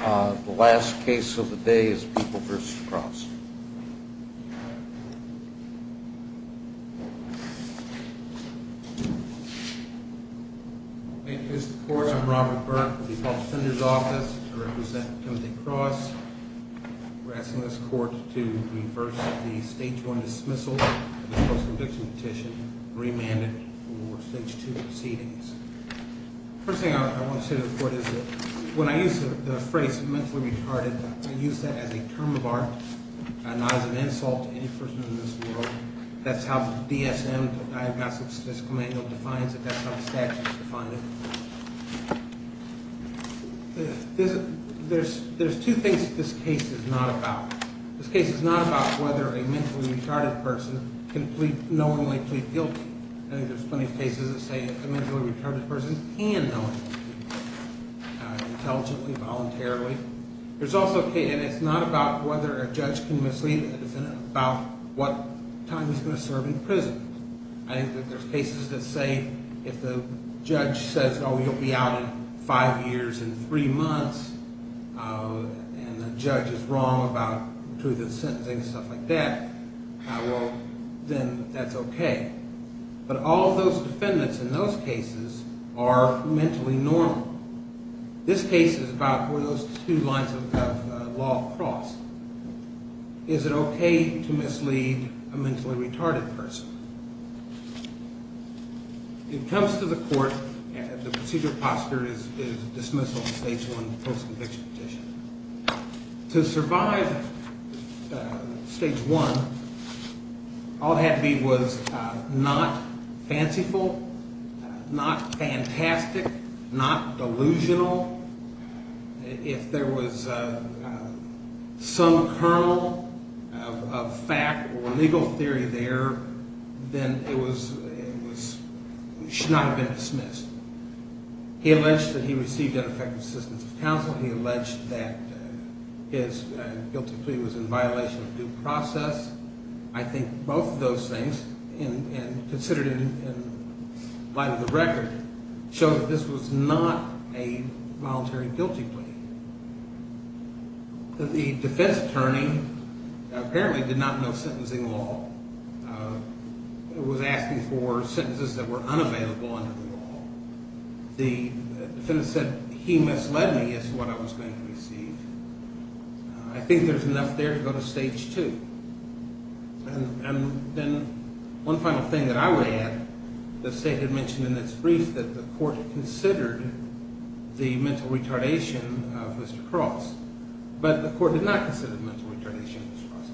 The last case of the day is People v. Cross. Thank you, Mr. Court. I'm Robert Burke with the Appellate Senator's Office. I represent Timothy Cross. We're asking this Court to reverse the Stage 1 dismissal of the Post-Conviction Petition and remand it for Stage 2 proceedings. The first thing I want to say to the Court is that when I use the phrase mentally retarded, I use that as a term of art and not as an insult to any person in this world. That's how the DSM, the Diagnostic Statistical Manual, defines it. That's how the statutes define it. There's two things that this case is not about. This case is not about whether a mentally retarded person can knowingly plead guilty. I think there's plenty of cases that say a mentally retarded person can knowingly plead guilty, intelligently, voluntarily. It's not about whether a judge can mislead a defendant about what time he's going to serve in prison. I think that there's cases that say if the judge says, oh, you'll be out in five years and three months, and the judge is wrong about the truth of the sentencing and stuff like that, well, then that's okay. But all of those defendants in those cases are mentally normal. This case is about where those two lines of law cross. Is it okay to mislead a mentally retarded person? It comes to the court, and the procedure of posture is dismissal of the stage one post-conviction petition. To survive stage one, all it had to be was not fanciful, not fantastic, not delusional. If there was some kernel of fact or legal theory there, then it should not have been dismissed. He alleged that he received ineffective assistance of counsel. He alleged that his guilty plea was in violation of due process. I think both of those things, considered in light of the record, show that this was not a voluntary guilty plea. The defense attorney apparently did not know sentencing law. It was asking for sentences that were unavailable under the law. The defendant said he misled me as to what I was going to receive. I think there's enough there to go to stage two. And then one final thing that I would add, the state had mentioned in its brief that the court considered the mental retardation of Mr. Cross. But the court did not consider mental retardation of Mr. Cross.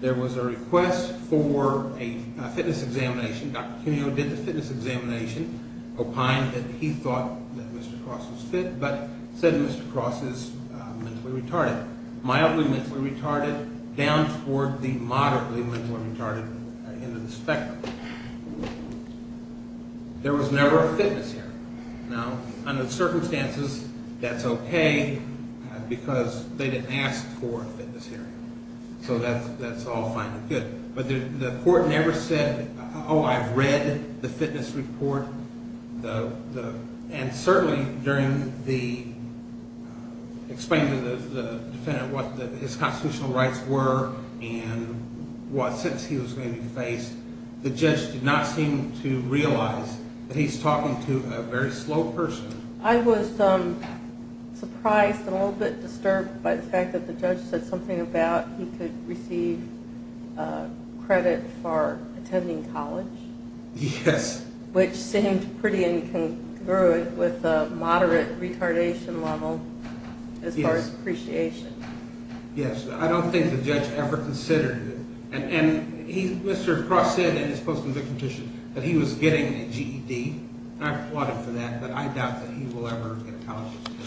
There was a request for a fitness examination. Dr. Cuneo did the fitness examination, opined that he thought that Mr. Cross was fit, but said Mr. Cross is mentally retarded. Mildly mentally retarded, down toward the moderately mentally retarded end of the spectrum. There was never a fitness hearing. Now, under the circumstances, that's okay, because they didn't ask for a fitness hearing. So that's all fine and good. But the court never said, oh, I've read the fitness report. And certainly during the explaining to the defendant what his constitutional rights were and what sentence he was going to be faced, the judge did not seem to realize that he's talking to a very slow person. I was surprised and a little bit disturbed by the fact that the judge said something about he could receive credit for attending college. Yes. Which seemed pretty incongruent with the moderate retardation level as far as appreciation. Yes, I don't think the judge ever considered it. And Mr. Cross said in his post-conviction petition that he was getting a GED. I applaud him for that, but I doubt that he will ever get a college degree.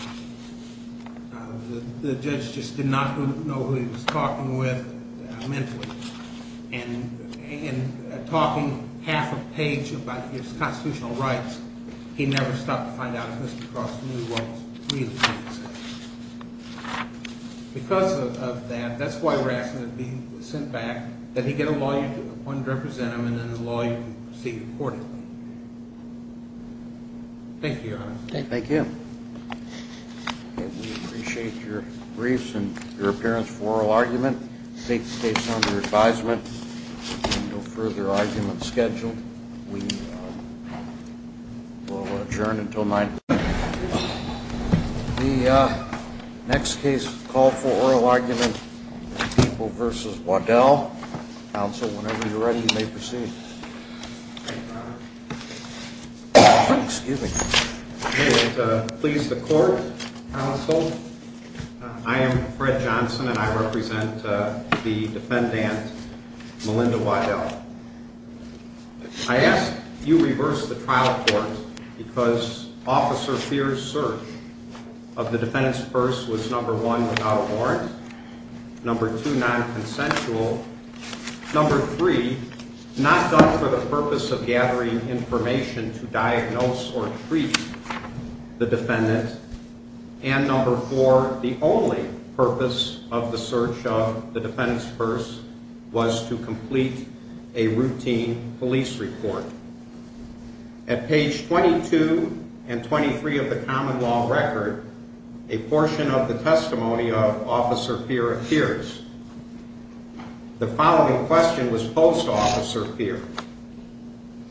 The judge just did not know who he was talking with mentally. And in talking half a page about his constitutional rights, he never stopped to find out if Mr. Cross knew what he was really trying to say. Because of that, that's why we're asking that he be sent back, that he get a law you can represent him and then a law you can proceed accordingly. Thank you, Your Honor. Thank you. We appreciate your briefs and your appearance for oral argument. The state's under advisement. There are no further arguments scheduled. We will adjourn until 9 p.m. The next case called for oral argument is People v. Waddell. Counsel, whenever you're ready, you may proceed. Excuse me. May it please the Court, Counsel? I am Fred Johnson, and I represent the defendant, Melinda Waddell. I ask that you reverse the trial court because Officer Fears' search of the defendant's purse was, number one, without a warrant, number two, nonconsensual, number three, not done for the purpose of gathering information to diagnose or treat the defendant, and number four, the only purpose of the search of the defendant's purse was to complete a routine police report. At page 22 and 23 of the common law record, a portion of the testimony of Officer Fears appears. The following question was posed to Officer Fears.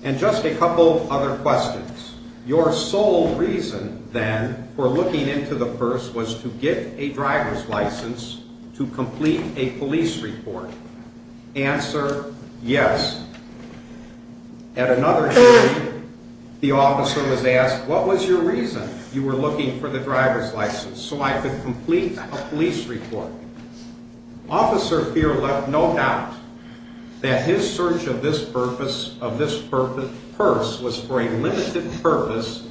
And just a couple of other questions. Your sole reason, then, for looking into the purse was to get a driver's license to complete a police report. Answer, yes. At another time, the officer was asked, what was your reason you were looking for the driver's license? So I could complete a police report. Officer Fears left no doubt that his search of this purpose, of this purse, was for a limited purpose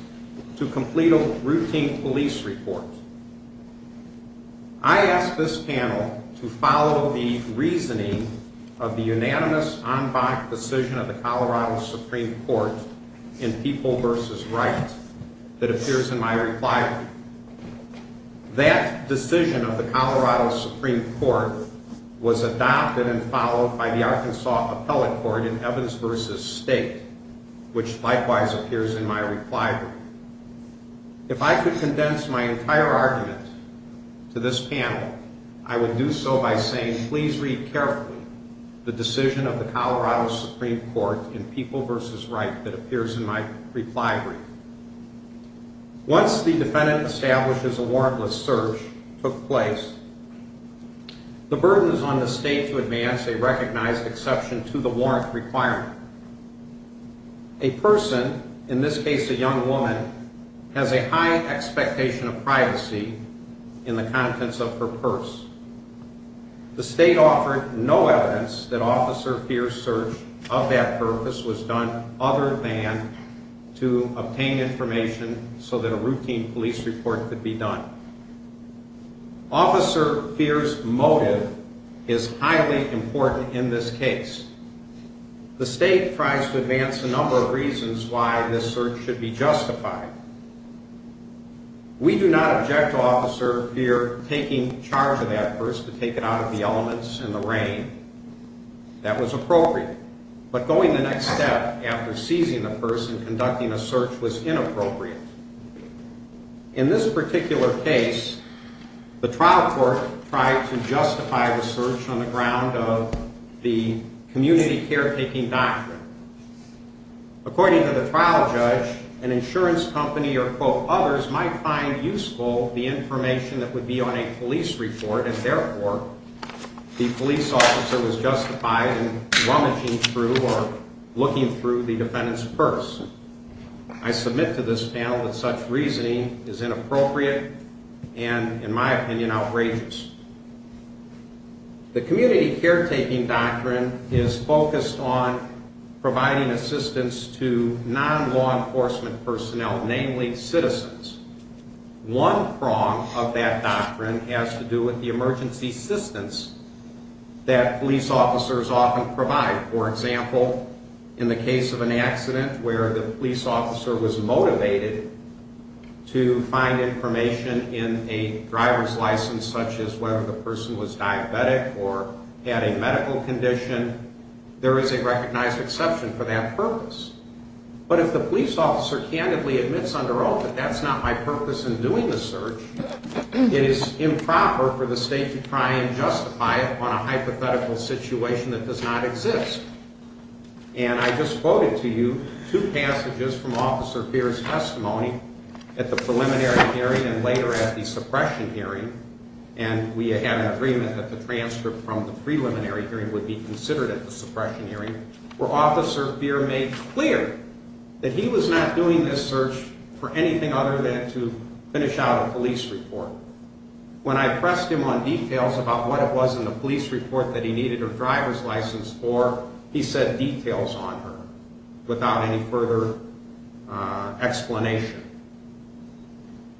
to complete a routine police report. I ask this panel to follow the reasoning of the unanimous en banc decision of the Colorado Supreme Court in People v. Wright that appears in my reply. That decision of the Colorado Supreme Court was adopted and followed by the Arkansas Appellate Court in Evans v. State, which likewise appears in my reply. If I could condense my entire argument to this panel, I would do so by saying, please read carefully the decision of the Colorado Supreme Court in People v. Wright that appears in my reply brief. Once the defendant establishes a warrantless search took place, the burden is on the state to advance a recognized exception to the warrant requirement. A person, in this case a young woman, has a high expectation of privacy in the contents of her purse. The state offered no evidence that Officer Fears' search of that purpose was done other than to obtain information so that a routine police report could be done. Officer Fears' motive is highly important in this case. The state tries to advance a number of reasons why this search should be justified. We do not object to Officer Fears taking charge of that purse to take it out of the elements in the rain. That was appropriate. But going the next step after seizing the purse and conducting a search was inappropriate. In this particular case, the trial court tried to justify the search on the ground of the community caretaking doctrine. According to the trial judge, an insurance company or others might find useful the information that would be on a police report and therefore the police officer was justified in rummaging through or looking through the defendant's purse. I submit to this panel that such reasoning is inappropriate and, in my opinion, outrageous. The community caretaking doctrine is focused on providing assistance to non-law enforcement personnel, namely citizens. One prong of that doctrine has to do with the emergency assistance that police officers often provide. For example, in the case of an accident where the police officer was motivated to find information in a driver's license such as whether the person was diabetic or had a medical condition, there is a recognized exception for that purpose. But if the police officer candidly admits under oath that that's not my purpose in doing the search, it is improper for the state to try and justify it on a hypothetical situation that does not exist. And I just quoted to you two passages from Officer Feer's testimony at the preliminary hearing and later at the suppression hearing, and we had an agreement that the transcript from the preliminary hearing would be considered at the suppression hearing, where Officer Feer made clear that he was not doing this search for anything other than to finish out a police report. When I pressed him on details about what it was in the police report that he needed a driver's license for, he said details on her without any further explanation.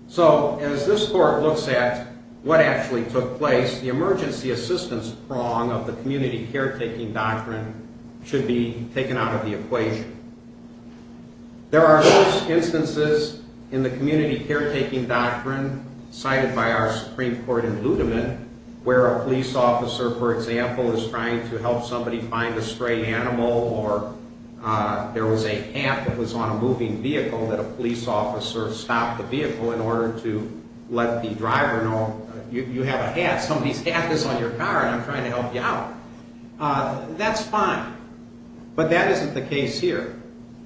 So, as this court looks at what actually took place, the emergency assistance prong of the community caretaking doctrine should be taken out of the equation. There are most instances in the community caretaking doctrine cited by our Supreme Court in Ludeman where a police officer, for example, is trying to help somebody find a stray animal or there was a cat that was on a moving vehicle that a police officer stopped the vehicle in order to let the driver know, you have a hat, somebody's hat is on your car and I'm trying to help you out. That's fine, but that isn't the case here.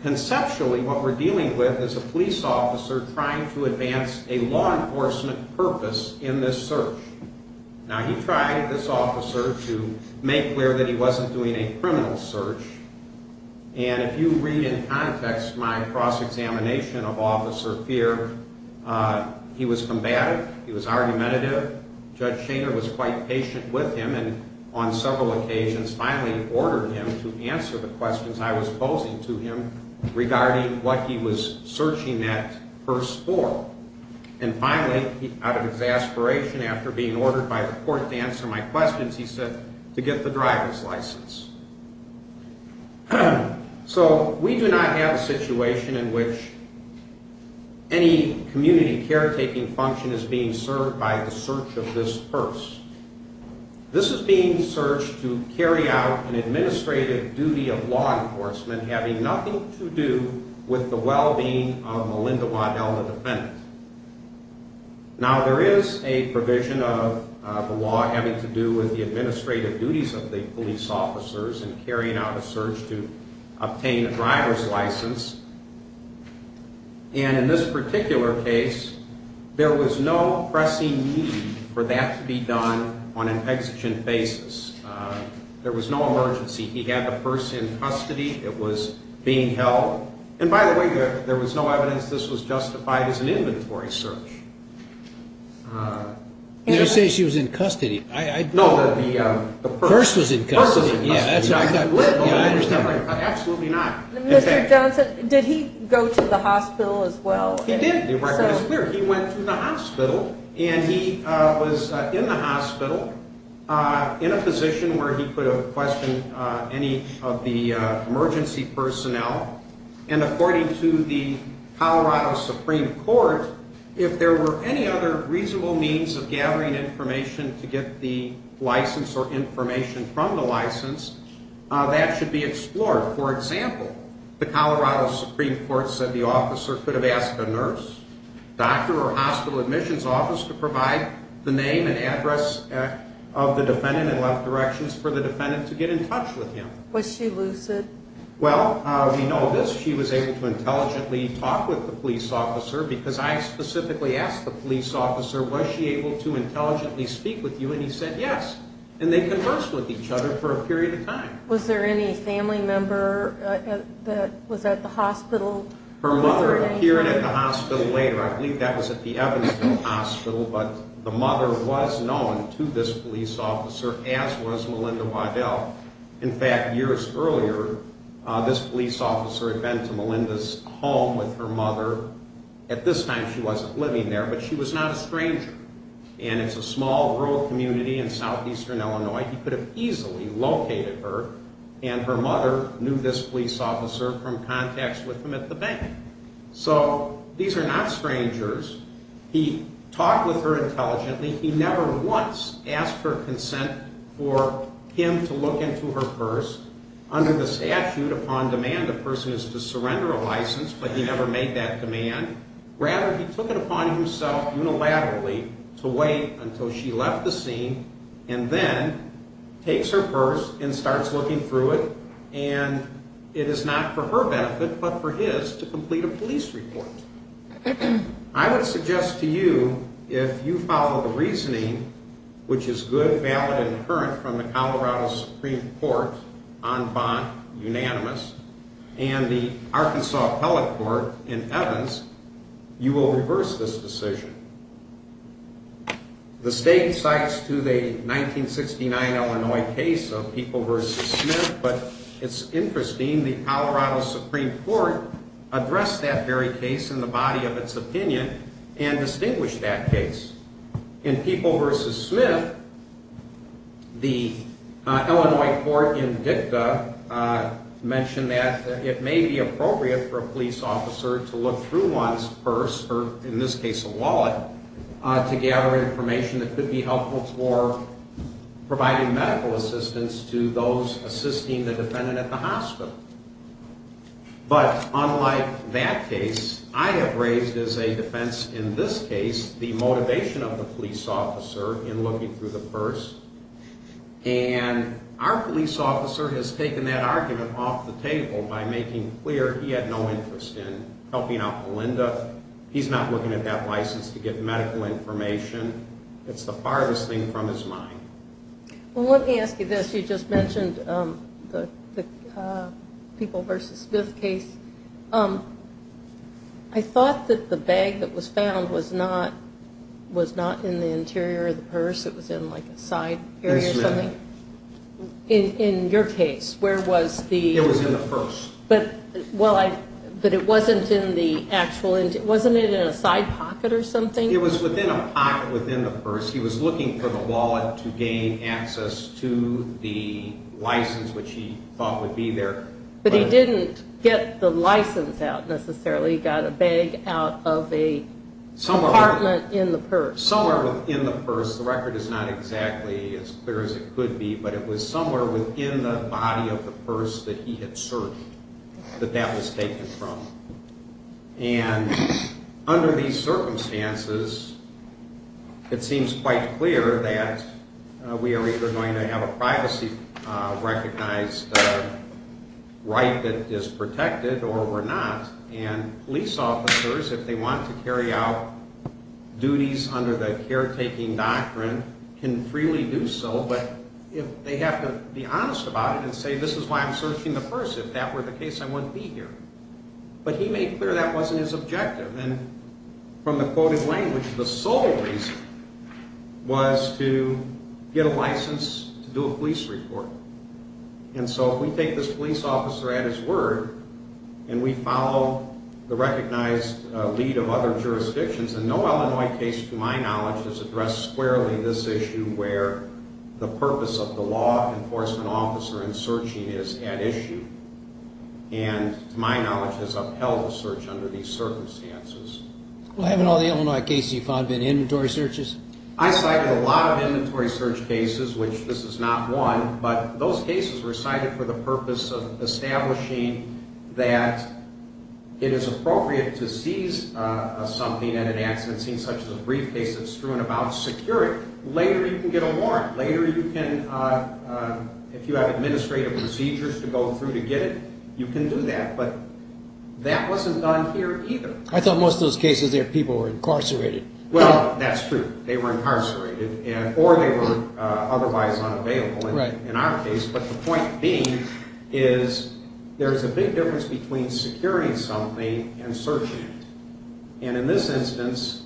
Conceptually, what we're dealing with is a police officer trying to advance a law enforcement purpose in this search. Now, he tried, this officer, to make clear that he wasn't doing a criminal search, and if you read in context my cross-examination of Officer Feer, he was combative, he was argumentative, Judge Schoener was quite patient with him and on several occasions finally ordered him to answer the questions I was posing to him regarding what he was searching that purse for. And finally, out of exasperation after being ordered by the court to answer my questions, he said to get the driver's license. So, we do not have a situation in which any community caretaking function is being served by the search of this purse. This is being searched to carry out an administrative duty of law enforcement having nothing to do with the well-being of Melinda Waddell, the defendant. Now, there is a provision of the law having to do with the administrative duties of the police officers in carrying out a search to obtain a driver's license. And in this particular case, there was no pressing need for that to be done on an exigent basis. There was no emergency. He had the purse in custody. It was being held. And by the way, there was no evidence this was justified as an inventory search. You didn't say she was in custody. No, the purse was in custody. Mr. Johnson, did he go to the hospital as well? He did. He went to the hospital and he was in the hospital in a position where he could have questioned any of the emergency personnel. And according to the Colorado Supreme Court, if there were any other reasonable means of gathering information to get the license or information from the license, that should be explored. For example, the Colorado Supreme Court said the officer could have asked a nurse, doctor, or hospital admissions office to provide the name and address of the defendant and left directions for the defendant to get in touch with him. Was she lucid? Well, we know this. She was able to intelligently talk with the police officer because I specifically asked the police officer, was she able to intelligently speak with you, and he said yes. And they conversed with each other for a period of time. Was there any family member that was at the hospital? Her mother appeared at the hospital later. I believe that was at the Evansville Hospital. But the mother was known to this police officer as was Melinda Waddell. In fact, years earlier, this police officer had been to Melinda's home with her mother. At this time she wasn't living there, but she was not a stranger. And it's a small rural community in southeastern Illinois. He could have easily located her, and her mother knew this police officer from contacts with him at the bank. So these are not strangers. He talked with her intelligently. He never once asked for consent for him to look into her purse. Under the statute, upon demand, a person is to surrender a license, but he never made that demand. Rather, he took it upon himself unilaterally to wait until she left the scene and then takes her purse and starts looking through it, and it is not for her benefit but for his to complete a police report. I would suggest to you, if you follow the reasoning, which is good, valid, and current from the Colorado Supreme Court, en banc, unanimous, and the Arkansas Appellate Court in Evans, you will reverse this decision. The state cites to the 1969 Illinois case of People v. Smith, but it's interesting the Colorado Supreme Court addressed that very case in the body of its opinion and distinguished that case. In People v. Smith, the Illinois court in dicta mentioned that it may be appropriate for a police officer to look through one's purse, or in this case a wallet, to gather information that could be helpful for providing medical assistance to those assisting the defendant at the hospital. But unlike that case, I have raised as a defense in this case the motivation of the police officer in looking through the purse, and our police officer has taken that argument off the table by making clear he had no interest in helping out Melinda. He's not looking at that license to get medical information. It's the farthest thing from his mind. Well, let me ask you this. You just mentioned the People v. Smith case. I thought that the bag that was found was not in the interior of the purse. It was in like a side area or something. In Smith. In your case, where was the... It was in the purse. But it wasn't in the actual... wasn't it in a side pocket or something? It was within a pocket within the purse. He was looking for the wallet to gain access to the license, which he thought would be there. But he didn't get the license out necessarily. He got a bag out of a compartment in the purse. Somewhere within the purse. The record is not exactly as clear as it could be, but it was somewhere within the body of the purse that he had searched, that that was taken from. And under these circumstances, it seems quite clear that we are either going to have a privacy-recognized right that is protected or we're not. And police officers, if they want to carry out duties under the caretaking doctrine, can freely do so. But if they have to be honest about it and say, this is why I'm searching the purse. If that were the case, I wouldn't be here. But he made clear that wasn't his objective. And from the quoted language, the sole reason was to get a license to do a police report. And so if we take this police officer at his word and we follow the recognized lead of other jurisdictions, and no Illinois case to my knowledge has addressed squarely this issue where the purpose of the law enforcement officer in searching is at issue, and to my knowledge has upheld the search under these circumstances. Well, haven't all the Illinois cases you've found been inventory searches? I cited a lot of inventory search cases, which this is not one, but those cases were cited for the purpose of establishing that it is appropriate to seize something at an accident scene, such as a briefcase that's strewn about security. Later you can get a warrant. Later you can, if you have administrative procedures to go through to get it, you can do that. But that wasn't done here either. I thought most of those cases there, people were incarcerated. Well, that's true. They were incarcerated, or they were otherwise unavailable in our case. But the point being is there's a big difference between securing something and searching it. And in this instance,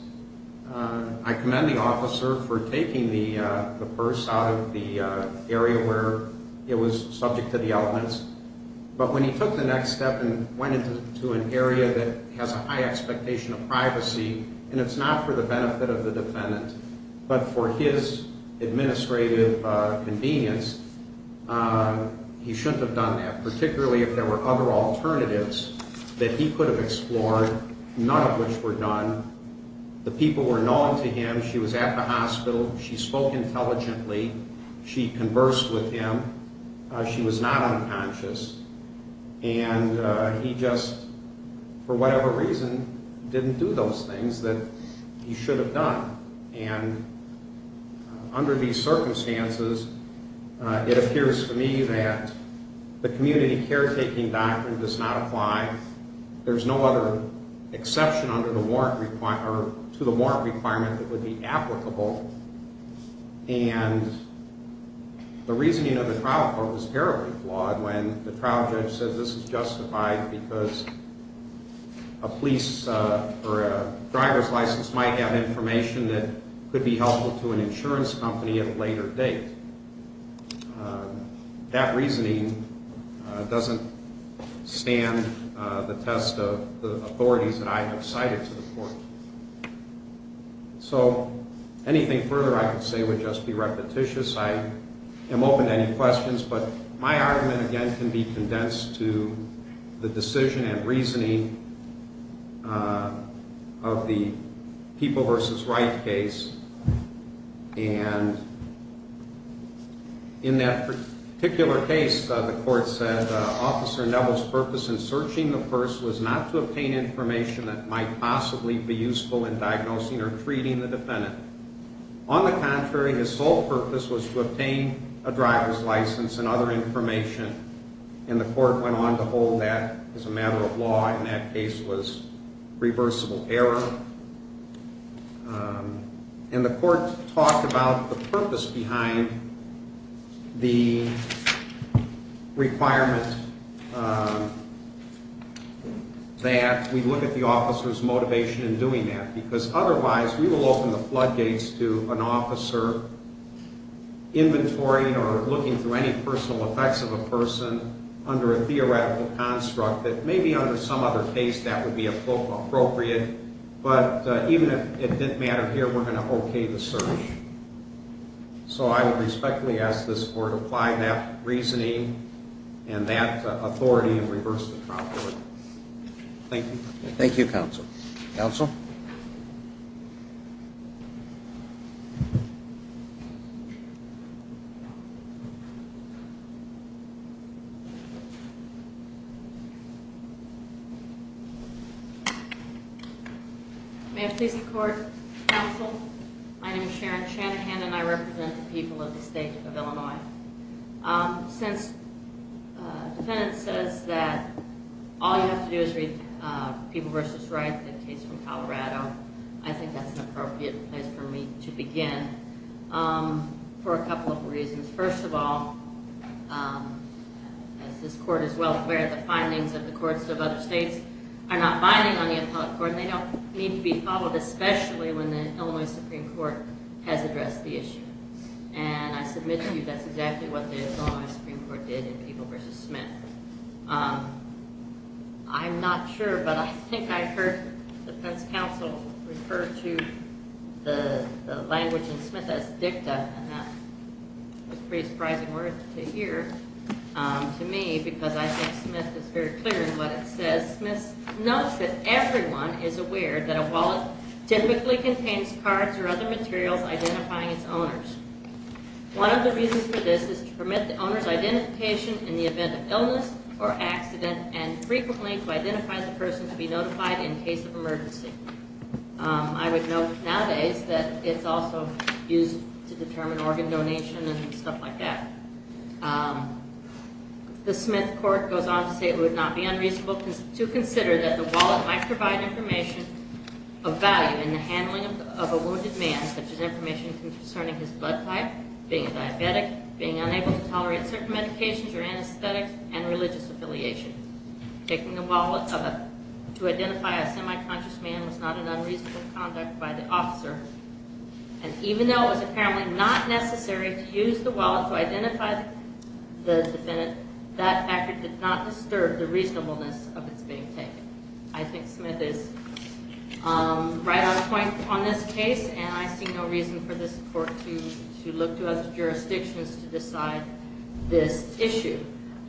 I commend the officer for taking the purse out of the area where it was subject to the elements. But when he took the next step and went into an area that has a high expectation of privacy, and it's not for the benefit of the defendant, but for his administrative convenience, he shouldn't have done that, particularly if there were other alternatives that he could have explored, none of which were done. The people were known to him. She was at the hospital. She spoke intelligently. She conversed with him. She was not unconscious. And he just, for whatever reason, didn't do those things that he should have done. And under these circumstances, it appears to me that the community caretaking doctrine does not apply. There's no other exception to the warrant requirement that would be applicable. And the reasoning of the trial court was terribly flawed when the trial judge said this is justified because a police or a driver's license might have information that could be helpful to an insurance company at a later date. That reasoning doesn't stand the test of the authorities that I have cited to the court. So anything further I could say would just be repetitious. I am open to any questions, but my argument, again, can be condensed to the decision and reasoning of the People v. Wright case. And in that particular case, the court said, Officer Neville's purpose in searching the purse was not to obtain information that might possibly be useful in diagnosing or treating the defendant. On the contrary, his sole purpose was to obtain a driver's license and other information. And the court went on to hold that as a matter of law, and that case was reversible error. And the court talked about the purpose behind the requirement that we look at the officer's motivation in doing that because otherwise we will open the floodgates to an officer inventorying or looking through any personal effects of a person under a theoretical construct that maybe under some other case that would be appropriate. But even if it didn't matter here, we're going to okay the search. So I would respectfully ask this court to apply that reasoning and that authority and reverse the trial court. Thank you. Thank you, counsel. Counsel? May I please record, counsel? My name is Sharon Shanahan, and I represent the people of the state of Illinois. Since the defendant says that all you have to do is read People v. Wright, the case from Colorado, I think that's an appropriate place for me to begin for a couple of reasons. First of all, as this court is well aware, the findings of the courts of other states are not binding on the appellate court, and they don't need to be followed, especially when the Illinois Supreme Court has addressed the issue. And I submit to you that's exactly what the Illinois Supreme Court did in People v. Smith. I'm not sure, but I think I heard the defense counsel refer to the language in Smith as dicta, and that was a pretty surprising word to hear to me because I think Smith is very clear in what it says. Smith notes that everyone is aware that a wallet typically contains cards or other materials identifying its owners. One of the reasons for this is to permit the owner's identification in the event of illness or accident and frequently to identify the person to be notified in case of emergency. I would note nowadays that it's also used to determine organ donation and stuff like that. The Smith court goes on to say it would not be unreasonable to consider that the wallet might provide information of value in the handling of a wounded man, such as information concerning his blood type, being a diabetic, being unable to tolerate certain medications or anesthetics, and religious affiliation. Taking a wallet to identify a semi-conscious man was not an unreasonable conduct by the officer, and even though it was apparently not necessary to use the wallet to identify the defendant, that factor did not disturb the reasonableness of its being taken. I think Smith is right on point on this case, and I see no reason for this court to look to other jurisdictions to decide this issue.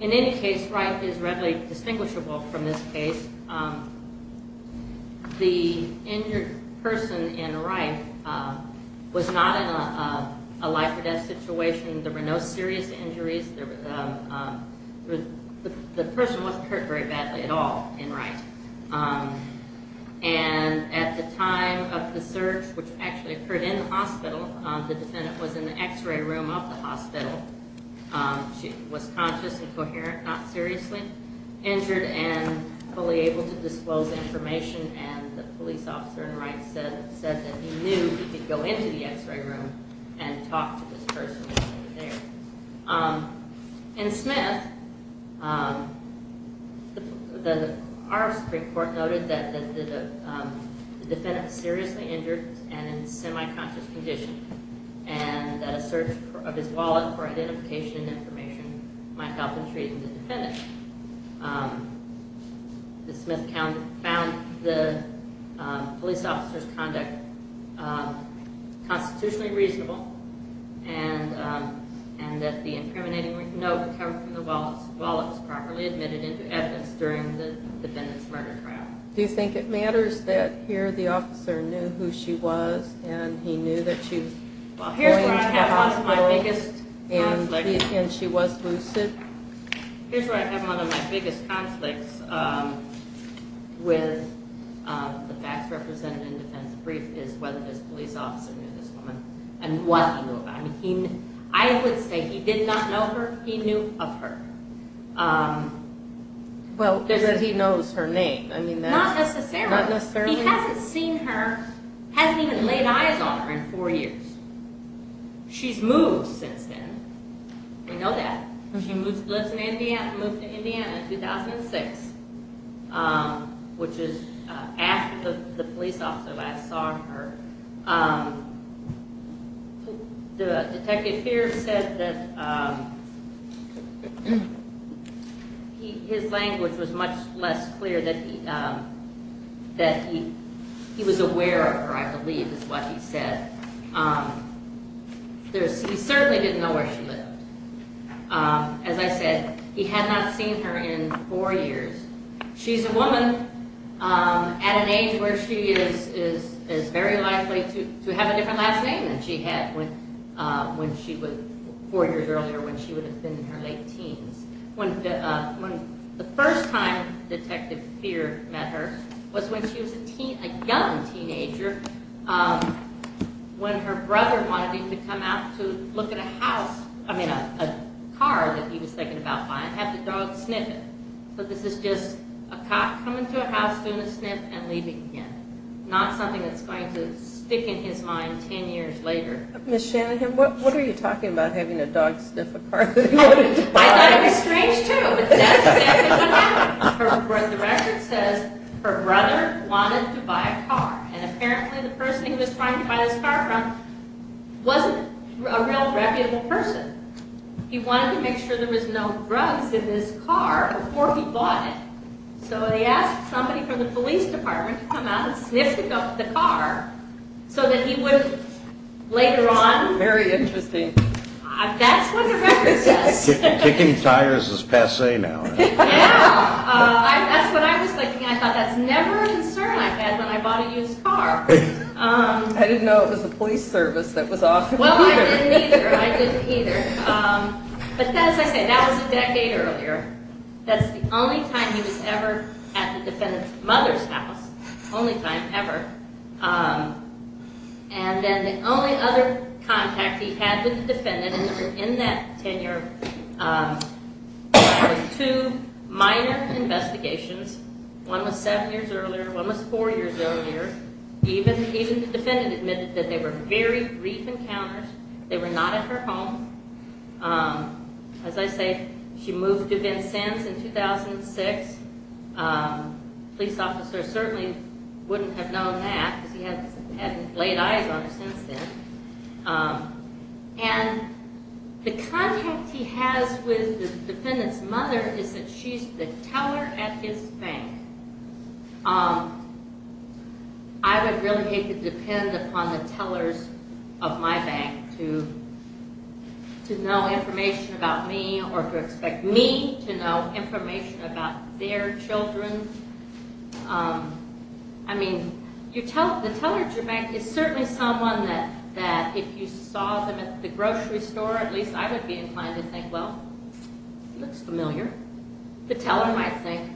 In any case, Wright is readily distinguishable from this case. The injured person in Wright was not in a life-or-death situation. There were no serious injuries. The person wasn't hurt very badly at all in Wright. And at the time of the search, which actually occurred in the hospital, the defendant was in the X-ray room of the hospital. She was conscious and coherent, not seriously injured, and fully able to disclose information, and the police officer in Wright said that he knew he could go into the X-ray room and talk to this person over there. In Smith, our Supreme Court noted that the defendant was seriously injured and in semi-conscious condition, and that a search of his wallet for identification and information might help in treating the defendant. Ms. Smith found the police officer's conduct constitutionally reasonable, and that the incriminating note covered from the wallet was properly admitted into evidence during the defendant's murder trial. Do you think it matters that here the officer knew who she was, and he knew that she was going to the hospital, and she was lucid? Here's where I have one of my biggest conflicts with the facts represented in the defense brief, is whether this police officer knew this woman, and what he knew about her. I would say he did not know her, he knew of her. Well, because he knows her name. Not necessarily. Not necessarily? He hasn't seen her, hasn't even laid eyes on her in four years. She's moved since then, we know that. She lives in Indiana, moved to Indiana in 2006, which is after the police officer last saw her. Detective Fears said that his language was much less clear, that he was aware of her, I believe is what he said. He certainly didn't know where she lived. As I said, he had not seen her in four years. She's a woman at an age where she is very likely to have a different last name than she had four years earlier, when she would have been in her late teens. The first time Detective Fear met her was when she was a young teenager, when her brother wanted him to come out to look at a house, I mean a car that he was thinking about buying, and have the dog sniff it. So this is just a cop coming to a house, doing a sniff, and leaving him. Not something that's going to stick in his mind ten years later. Miss Shanahan, what are you talking about, having a dog sniff a car that he wanted to buy? I thought it was strange too, but that's exactly what happened. The record says her brother wanted to buy a car, and apparently the person he was trying to buy this car from wasn't a real reputable person. He wanted to make sure there was no drugs in his car before he bought it. So he asked somebody from the police department to come out and sniff the car, so that he would later on... Very interesting. That's what the record says. Kicking tires is passe now. Yeah, that's what I was thinking. I thought that's never a concern I've had when I bought a used car. I didn't know it was the police service that was off. Well, I didn't either. But as I said, that was a decade earlier. That's the only time he was ever at the defendant's mother's house. Only time ever. And then the only other contact he had with the defendant in that tenure were two minor investigations. One was seven years earlier, one was four years earlier. Even the defendant admitted that they were very brief encounters. They were not at her home. As I said, she moved to Vincennes in 2006. A police officer certainly wouldn't have known that, because he hadn't laid eyes on her since then. And the contact he has with the defendant's mother is that she's the teller at his bank. I would really hate to depend upon the tellers of my bank to know information about me or to expect me to know information about their children. I mean, the teller at your bank is certainly someone that if you saw them at the grocery store, at least I would be inclined to think, well, he looks familiar. The teller might think,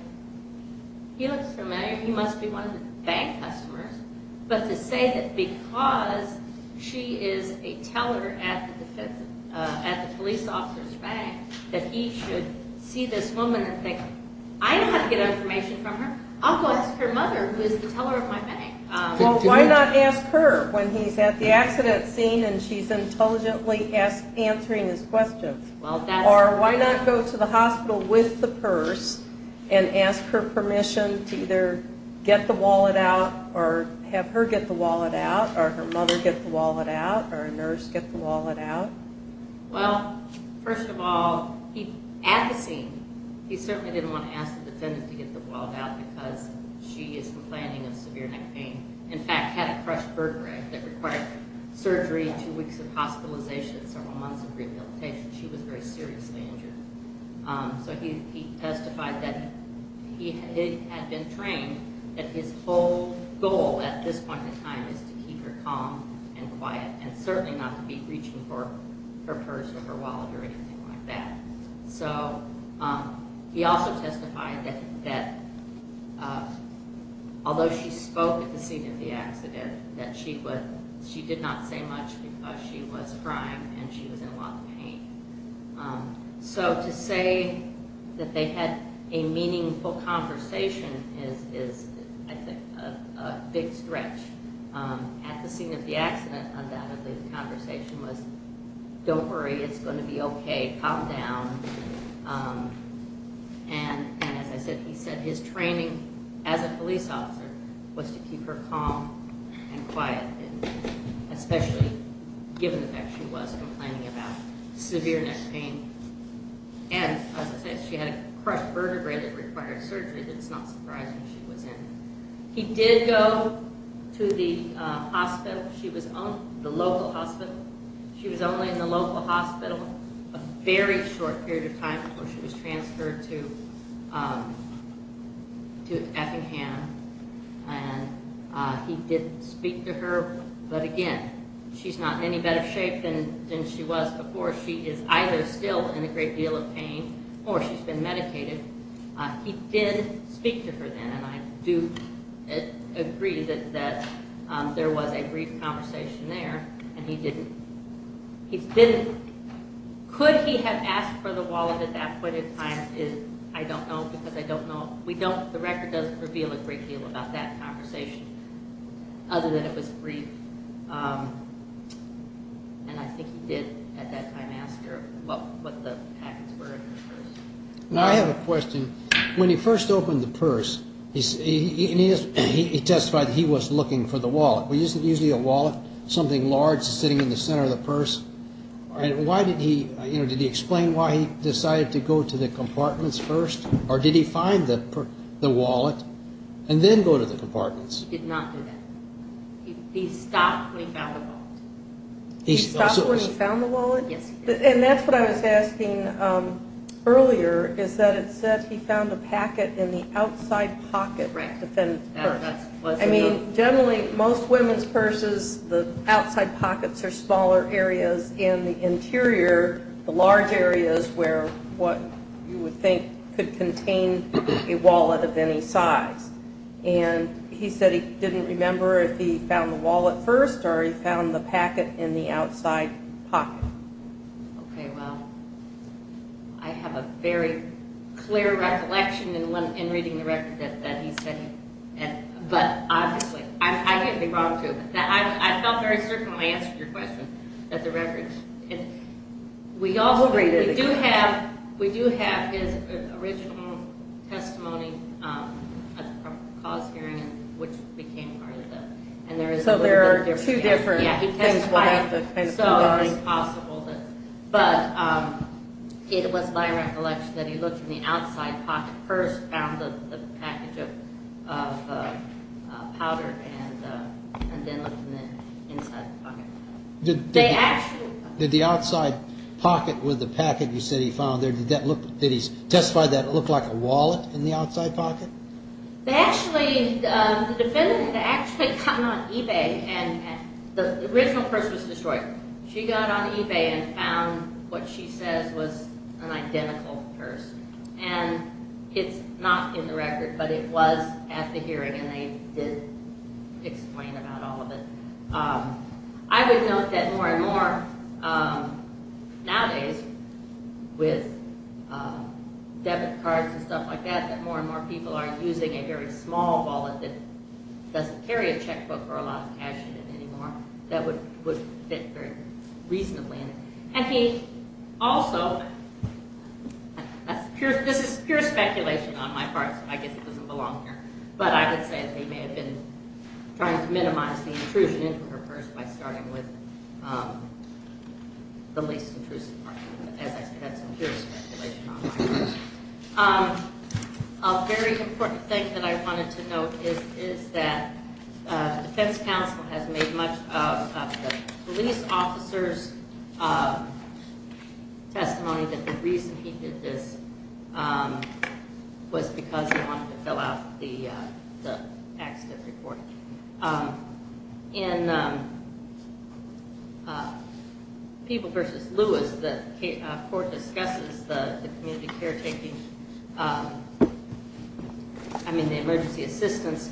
he looks familiar. He must be one of the bank customers. But to say that because she is a teller at the police officer's bank that he should see this woman and think, I know how to get information from her. I'll go ask her mother, who is the teller of my bank. Well, why not ask her when he's at the accident scene and she's intelligently answering his questions? Or why not go to the hospital with the purse and ask her permission to either get the wallet out or have her get the wallet out or her mother get the wallet out or a nurse get the wallet out? Well, first of all, at the scene, he certainly didn't want to ask the defendant to get the wallet out because she is complaining of severe neck pain. In fact, had a crushed vertebrae that required surgery, two weeks of hospitalization, several months of rehabilitation, she was very seriously injured. So he testified that he had been trained that his whole goal at this point in time is to keep her calm and quiet and certainly not to be reaching for her purse or her wallet or anything like that. So he also testified that although she spoke at the scene of the accident, she did not say much because she was crying and she was in a lot of pain. So to say that they had a meaningful conversation is, I think, a big stretch. At the scene of the accident, undoubtedly, the conversation was, don't worry, it's going to be okay, calm down. And as I said, he said his training as a police officer was to keep her calm and quiet, especially given the fact she was complaining about severe neck pain. And as I said, she had a crushed vertebrae that required surgery. It's not surprising she was in. He did go to the hospital. She was in the local hospital. A very short period of time before she was transferred to Effingham, and he did speak to her. But again, she's not in any better shape than she was before. She is either still in a great deal of pain or she's been medicated. He did speak to her then, and I do agree that there was a brief conversation there, and he didn't. Could he have asked for the wallet at that point in time? I don't know because I don't know. The record doesn't reveal a great deal about that conversation other than it was brief. And I think he did at that time ask her what the packets were in her purse. I have a question. When he first opened the purse, he testified he was looking for the wallet. Well, isn't usually a wallet something large sitting in the center of the purse? Did he explain why he decided to go to the compartments first, or did he find the wallet and then go to the compartments? He did not do that. He stopped when he found the wallet. He stopped when he found the wallet? Yes, he did. And that's what I was asking earlier, is that it said he found a packet in the outside pocket of the purse. I mean, generally, most women's purses, the outside pockets are smaller areas. In the interior, the large area is where what you would think could contain a wallet of any size. And he said he didn't remember if he found the wallet first or he found the packet in the outside pocket. Okay, well, I have a very clear recollection in reading the record that he said he had. But, obviously, I can't be wrong, too. I felt very certain when I answered your question that the record – We'll read it again. We do have his original testimony at the cause hearing, which became part of the – So there are two different things. So it's impossible. But it was my recollection that he looked in the outside pocket first, found the packet of powder, and then looked in the inside pocket. Did the outside pocket with the packet you said he found there, did he testify that it looked like a wallet in the outside pocket? The defendant had actually gotten on eBay, and the original purse was destroyed. She got on eBay and found what she says was an identical purse. And it's not in the record, but it was at the hearing, and they did explain about all of it. I would note that more and more nowadays with debit cards and stuff like that, that more and more people are using a very small wallet that doesn't carry a checkbook or a lot of cash in it anymore that would fit very reasonably. And he also – this is pure speculation on my part, so I guess it doesn't belong here. But I would say that they may have been trying to minimize the intrusion into her purse by starting with the least intrusive part, as I said, that's pure speculation on my part. A very important thing that I wanted to note is that the defense counsel has made much of the police officer's testimony that the reason he did this was because he wanted to fill out the accident report. In People v. Lewis, the court discusses the community caretaking – I mean the emergency assistance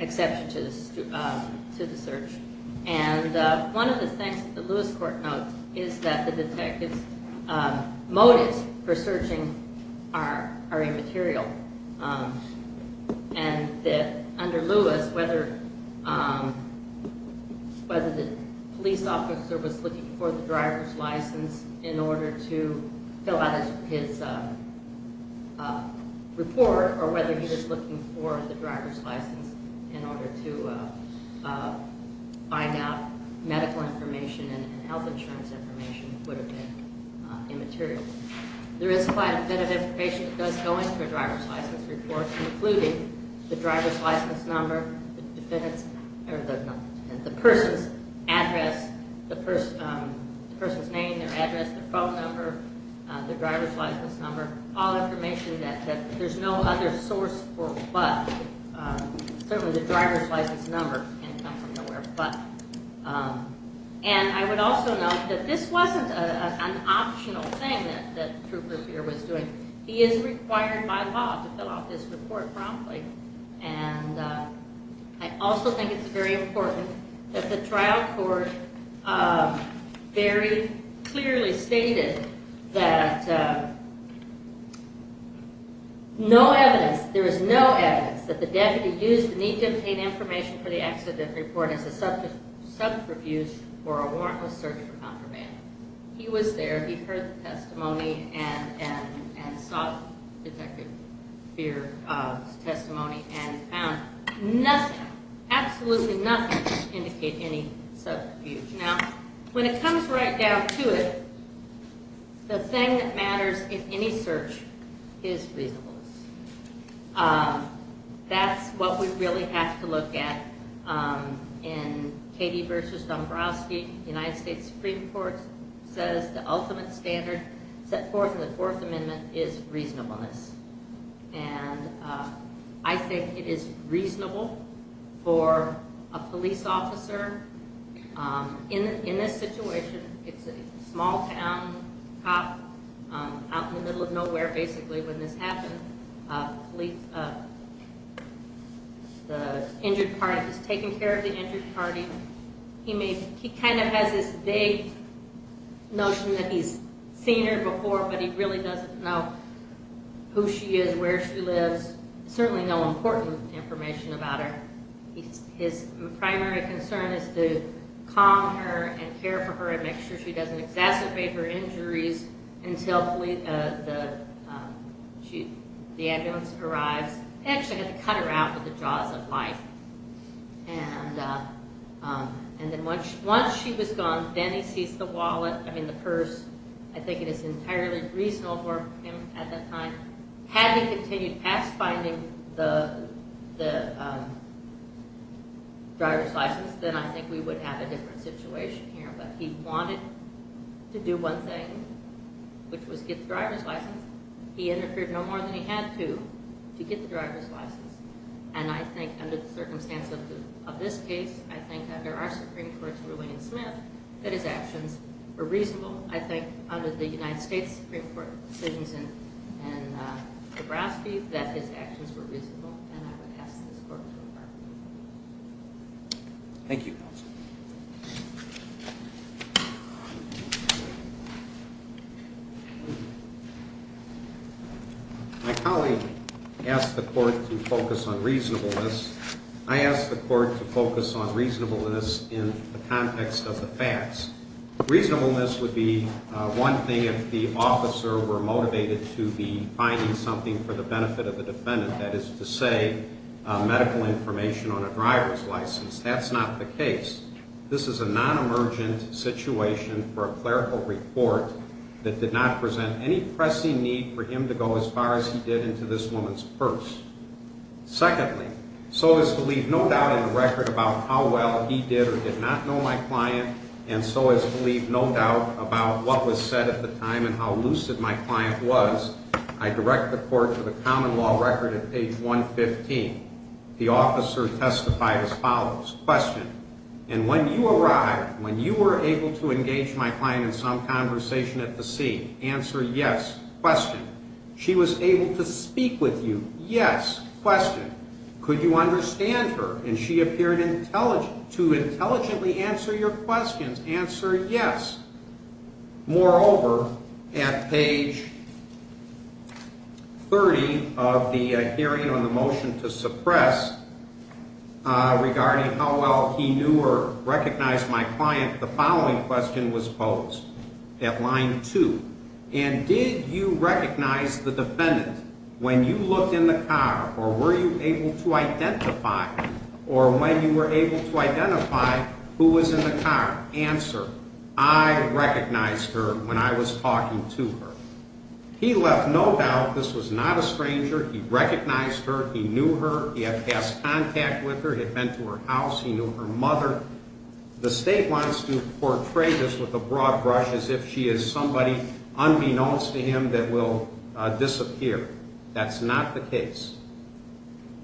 exception to the search. And one of the things that the Lewis court notes is that the detective's motives for searching are immaterial. And that under Lewis, whether the police officer was looking for the driver's license in order to fill out his report or whether he was looking for the driver's license in order to find out medical information and health insurance information would have been immaterial. There is quite a bit of information that does go into a driver's license report, including the driver's license number, the person's address, the person's name, their address, their phone number, the driver's license number, all information that there's no other source for but. Certainly the driver's license number can't come from nowhere but. And I would also note that this wasn't an optional thing that Trooper Beer was doing. He is required by law to fill out this report promptly. And I also think it's very important that the trial court very clearly stated that no evidence, there is no evidence that the deputy used the need-to-obtain-information-for-the-accident report as a subterfuge for a warrantless search for contraband. He was there, he heard the testimony and sought Detective Beer's testimony and found nothing, absolutely nothing to indicate any subterfuge. Now, when it comes right down to it, the thing that matters in any search is reasonableness. That's what we really have to look at. In Katie v. Dombrowski, the United States Supreme Court says the ultimate standard set forth in the Fourth Amendment is reasonableness. And I think it is reasonable for a police officer in this situation, it's a small-town cop out in the middle of nowhere basically when this happened, the injured party was taking care of the injured party. He kind of has this vague notion that he's seen her before, but he really doesn't know who she is, where she lives, certainly no important information about her. His primary concern is to calm her and care for her and make sure she doesn't exacerbate her injuries until the ambulance arrives. He actually had to cut her out with the jaws of life. And then once she was gone, then he seized the wallet, I mean the purse. I think it is entirely reasonable for him at that time. Had he continued past finding the driver's license, then I think we would have a different situation here. But he wanted to do one thing, which was get the driver's license. He interfered no more than he had to to get the driver's license. And I think under the circumstance of this case, I think under our Supreme Court's ruling in Smith, that his actions were reasonable. I think under the United States Supreme Court decisions in Nebraska, that his actions were reasonable. And I would ask this Court to refer him. Thank you, counsel. My colleague asked the Court to focus on reasonableness. I asked the Court to focus on reasonableness in the context of the facts. Reasonableness would be one thing if the officer were motivated to be finding something for the benefit of the defendant. That is to say, medical information on a driver's license. That's not the case. This is a non-emergent situation for a clerical report that did not present any pressing need for him to go as far as he did into this woman's purse. Secondly, so as to leave no doubt in the record about how well he did or did not know my client, and so as to leave no doubt about what was said at the time and how lucid my client was, I direct the Court to the common law record at page 115. The officer testified as follows. Question. And when you arrived, when you were able to engage my client in some conversation at the scene, answer yes. Question. She was able to speak with you. Yes. Question. Could you understand her? And she appeared to intelligently answer your questions. Answer yes. Moreover, at page 30 of the hearing on the motion to suppress regarding how well he knew or recognized my client, the following question was posed at line 2. And did you recognize the defendant when you looked in the car or were you able to identify or when you were able to identify who was in the car? Answer, I recognized her when I was talking to her. He left no doubt this was not a stranger. He recognized her. He knew her. He had passed contact with her. He had been to her house. He knew her mother. The State wants to portray this with a broad brush as if she is somebody unbeknownst to him that will disappear. That's not the case.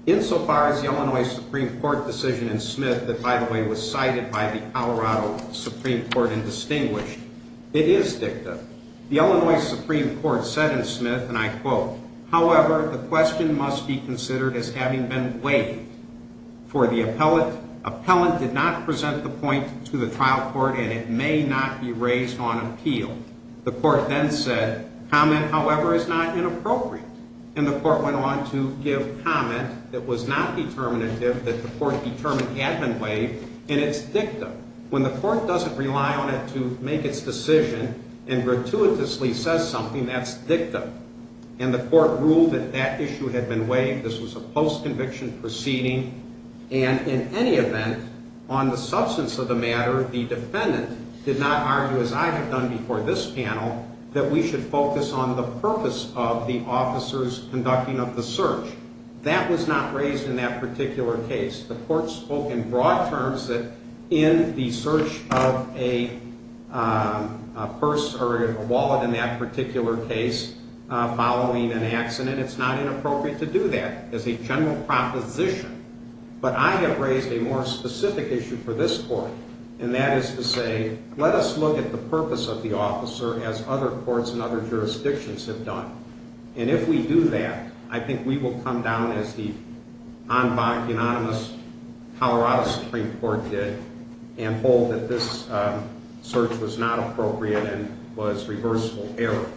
Insofar as the Illinois Supreme Court decision in Smith that, by the way, was cited by the Colorado Supreme Court and distinguished, it is dicta. The Illinois Supreme Court said in Smith, and I quote, however, the question must be considered as having been waived, for the appellant did not present the point to the trial court and it may not be raised on appeal. The court then said, comment, however, is not inappropriate. And the court went on to give comment that was not determinative, that the court determined had been waived, and it's dicta. When the court doesn't rely on it to make its decision and gratuitously says something, that's dicta. And the court ruled that that issue had been waived. This was a post-conviction proceeding. And in any event, on the substance of the matter, the defendant did not argue, as I have done before this panel, that we should focus on the purpose of the officer's conducting of the search. That was not raised in that particular case. The court spoke in broad terms that in the search of a purse or a wallet in that particular case following an accident, it's not inappropriate to do that as a general proposition. But I have raised a more specific issue for this court, and that is to say, let us look at the purpose of the officer as other courts and other jurisdictions have done. And if we do that, I think we will come down as the en banc unanimous Colorado Supreme Court did and hold that this search was not appropriate and was reversible error.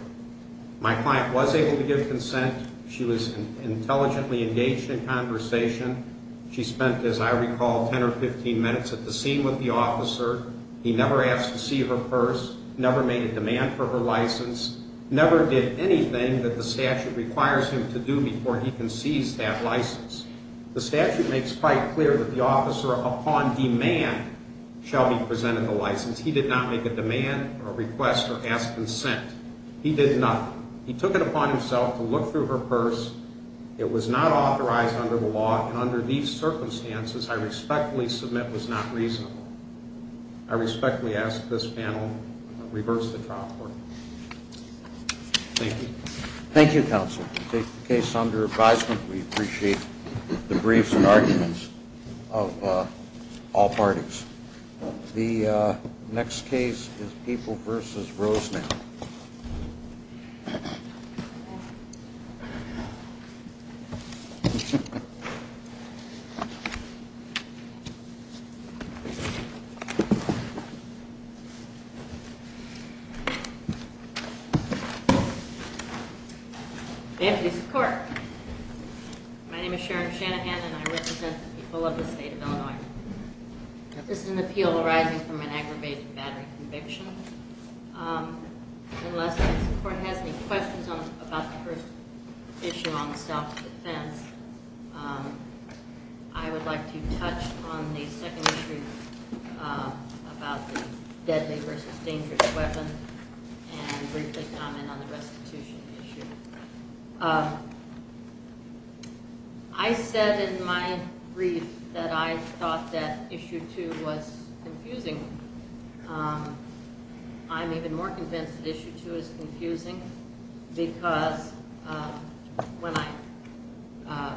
My client was able to give consent. She was intelligently engaged in conversation. She spent, as I recall, 10 or 15 minutes at the scene with the officer. He never asked to see her purse, never made a demand for her license, never did anything that the statute requires him to do before he can seize that license. The statute makes quite clear that the officer, upon demand, shall be presented the license. He did not make a demand or request or ask consent. He did nothing. He took it upon himself to look through her purse. It was not authorized under the law, and under these circumstances, I respectfully submit was not reasonable. I respectfully ask this panel to reverse the trial court. Thank you. Thank you, counsel. We take the case under advisement. We appreciate the briefs and arguments of all parties. The next case is Papal v. Rosenau. Thank you. May I please support? My name is Sharon Shanahan, and I represent the people of the state of Illinois. This is an appeal arising from an aggravated battery conviction. Unless the court has any questions about the first issue on self-defense, I would like to touch on the second issue about the deadly versus dangerous weapon and briefly comment on the restitution issue. I said in my brief that I thought that issue two was confusing. I'm even more convinced that issue two is confusing because when I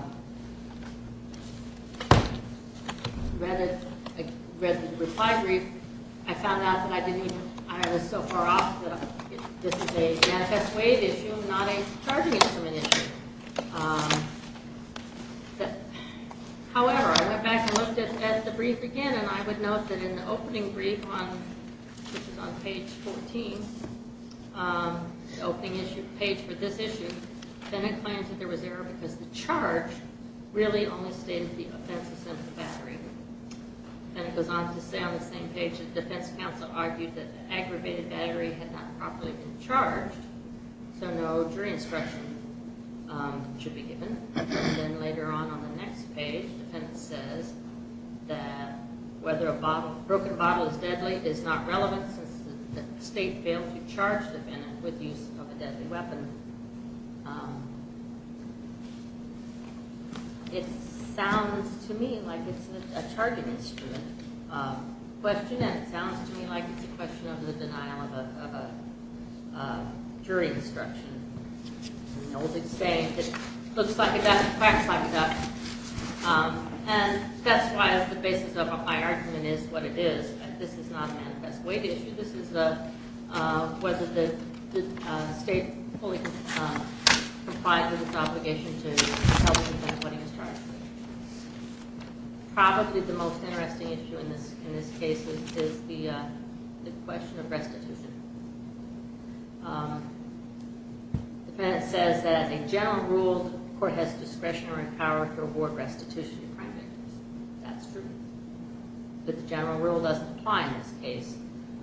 read the reply brief, I found out that I was so far off that this is a manifest waive issue, not a charging instrument issue. However, I went back and looked at the brief again, and I would note that in the opening brief, which is on page 14, the opening page for this issue, Bennett claims that there was error because the charge really only stated the offensive sense of the battery. Bennett goes on to say on the same page that the defense counsel argued that the aggravated battery had not properly been charged, so no jury instruction should be given. Then later on on the next page, the defendant says that whether a broken bottle is deadly is not relevant since the state failed to charge the defendant with the use of a deadly weapon. It sounds to me like it's a charging instrument question, and it sounds to me like it's a question of the denial of a jury instruction. It's an old saying that looks like it doesn't fact-check that, and that's why the basis of my argument is what it is. This is not a manifest waive issue. This is whether the state fully complied with its obligation to help the defendant when he was charged. Probably the most interesting issue in this case is the question of restitution. The defendant says that a general rule, the court has discretion or power to award restitution to crime victims. That's true. But the general rule doesn't apply in this case.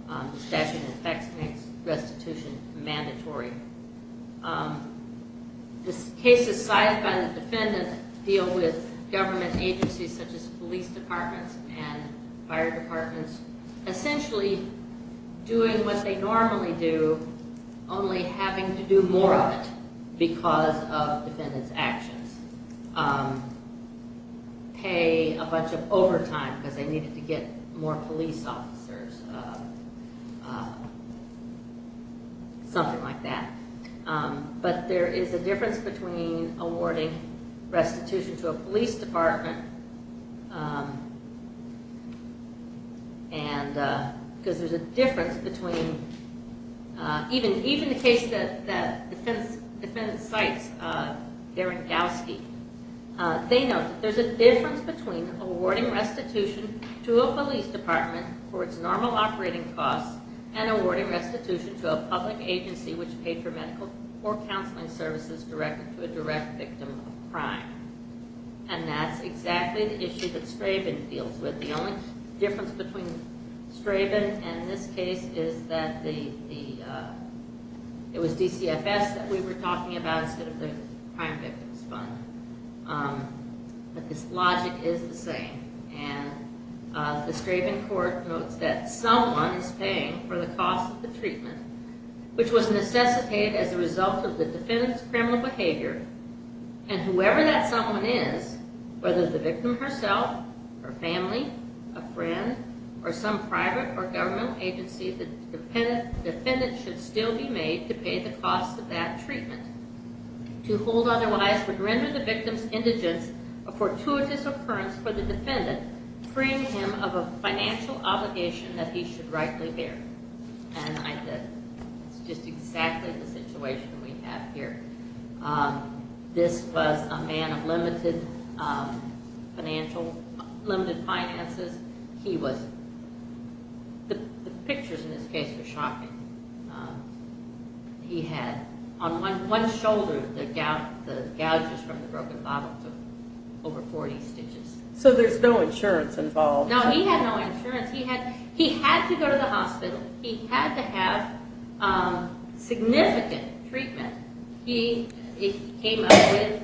The statute of effects makes restitution mandatory. This case is cited by the defendant to deal with government agencies such as police departments and fire departments, essentially doing what they normally do, only having to do more of it because of the defendant's actions. Pay a bunch of overtime because they needed to get more police officers, something like that. But there is a difference between awarding restitution to a police department, because there's a difference between, even the case that the defendant cites, Derangowski, they note that there's a difference between awarding restitution to a police department for its normal operating costs and awarding restitution to a public agency which paid for medical or counseling services directed to a direct victim of crime. And that's exactly the issue that Straben deals with. The only difference between Straben and this case is that it was DCFS that we were talking about instead of the Crime Victims Fund. But this logic is the same. And the Straben court notes that someone is paying for the cost of the treatment, which was necessitated as a result of the defendant's criminal behavior, and whoever that someone is, whether the victim herself, her family, a friend, or some private or governmental agency, the defendant should still be made to pay the cost of that treatment. To hold otherwise would render the victim's indigence a fortuitous occurrence for the defendant, freeing him of a financial obligation that he should rightly bear. And that's just exactly the situation we have here. This was a man of limited financial, limited finances. He was, the pictures in this case were shocking. He had on one shoulder the gouges from the broken bottle took over 40 stitches. So there's no insurance involved. No, he had no insurance. He had to go to the hospital. He had to have significant treatment. He came up with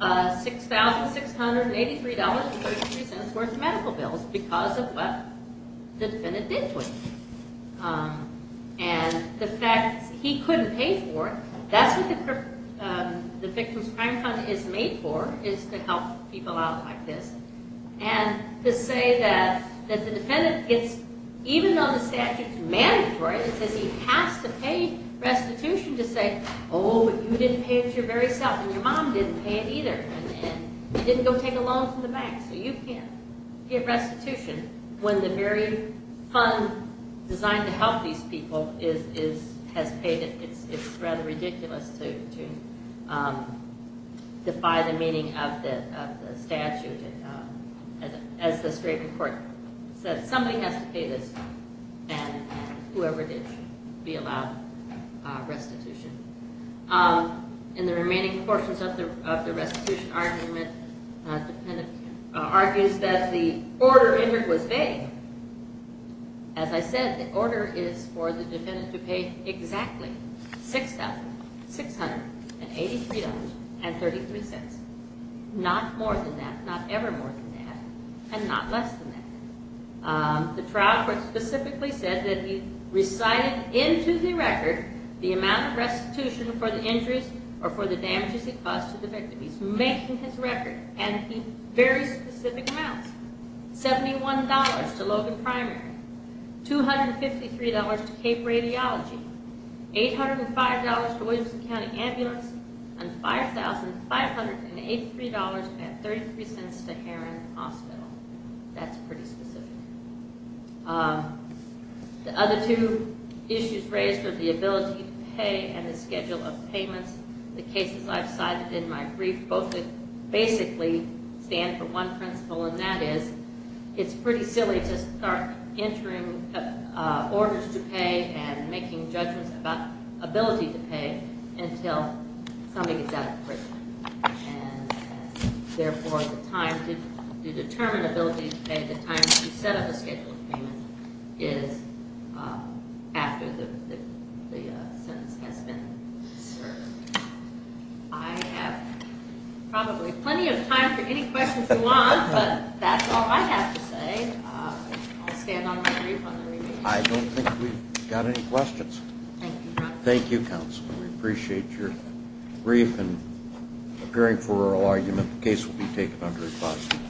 $6,683.33 worth of medical bills because of what the defendant did to him. And the fact he couldn't pay for it, that's what the Victims Crime Fund is made for, is to help people out like this. And to say that the defendant gets, even though the statute's mandatory, it says he has to pay restitution to say, oh, you didn't pay it your very self, and your mom didn't pay it either, and you didn't go take a loan from the bank, so you can't get restitution when the very fund designed to help these people has paid it. It's rather ridiculous to defy the meaning of the statute. As the strait court said, somebody has to pay this, and whoever did should be allowed restitution. In the remaining portions of the restitution argument, the defendant argues that the order entered was vague. As I said, the order is for the defendant to pay exactly $6,683.33. Not more than that, not ever more than that, and not less than that. The trial court specifically said that he recited into the record the amount of restitution for the injuries or for the damages he caused to the victim. He's making his record, and he's very specific amounts. $71 to Logan Primary, $253 to Cape Radiology, $805 to Williamson County Ambulance, and $5,583.33 to Heron Hospital. That's pretty specific. The other two issues raised are the ability to pay and the schedule of payments. The cases I've cited in my brief both basically stand for one principle, and that is it's pretty silly to start entering orders to pay and making judgments about ability to pay until somebody gets out of prison. Therefore, the time to determine ability to pay, the time to set up a scheduled payment, is after the sentence has been served. I have probably plenty of time for any questions you want, but that's all I have to say. I'll stand on my brief on the remainder. I don't think we've got any questions. Thank you, counsel. Thank you, counsel. We appreciate your brief and appearing for oral argument. The case will be taken under a positive.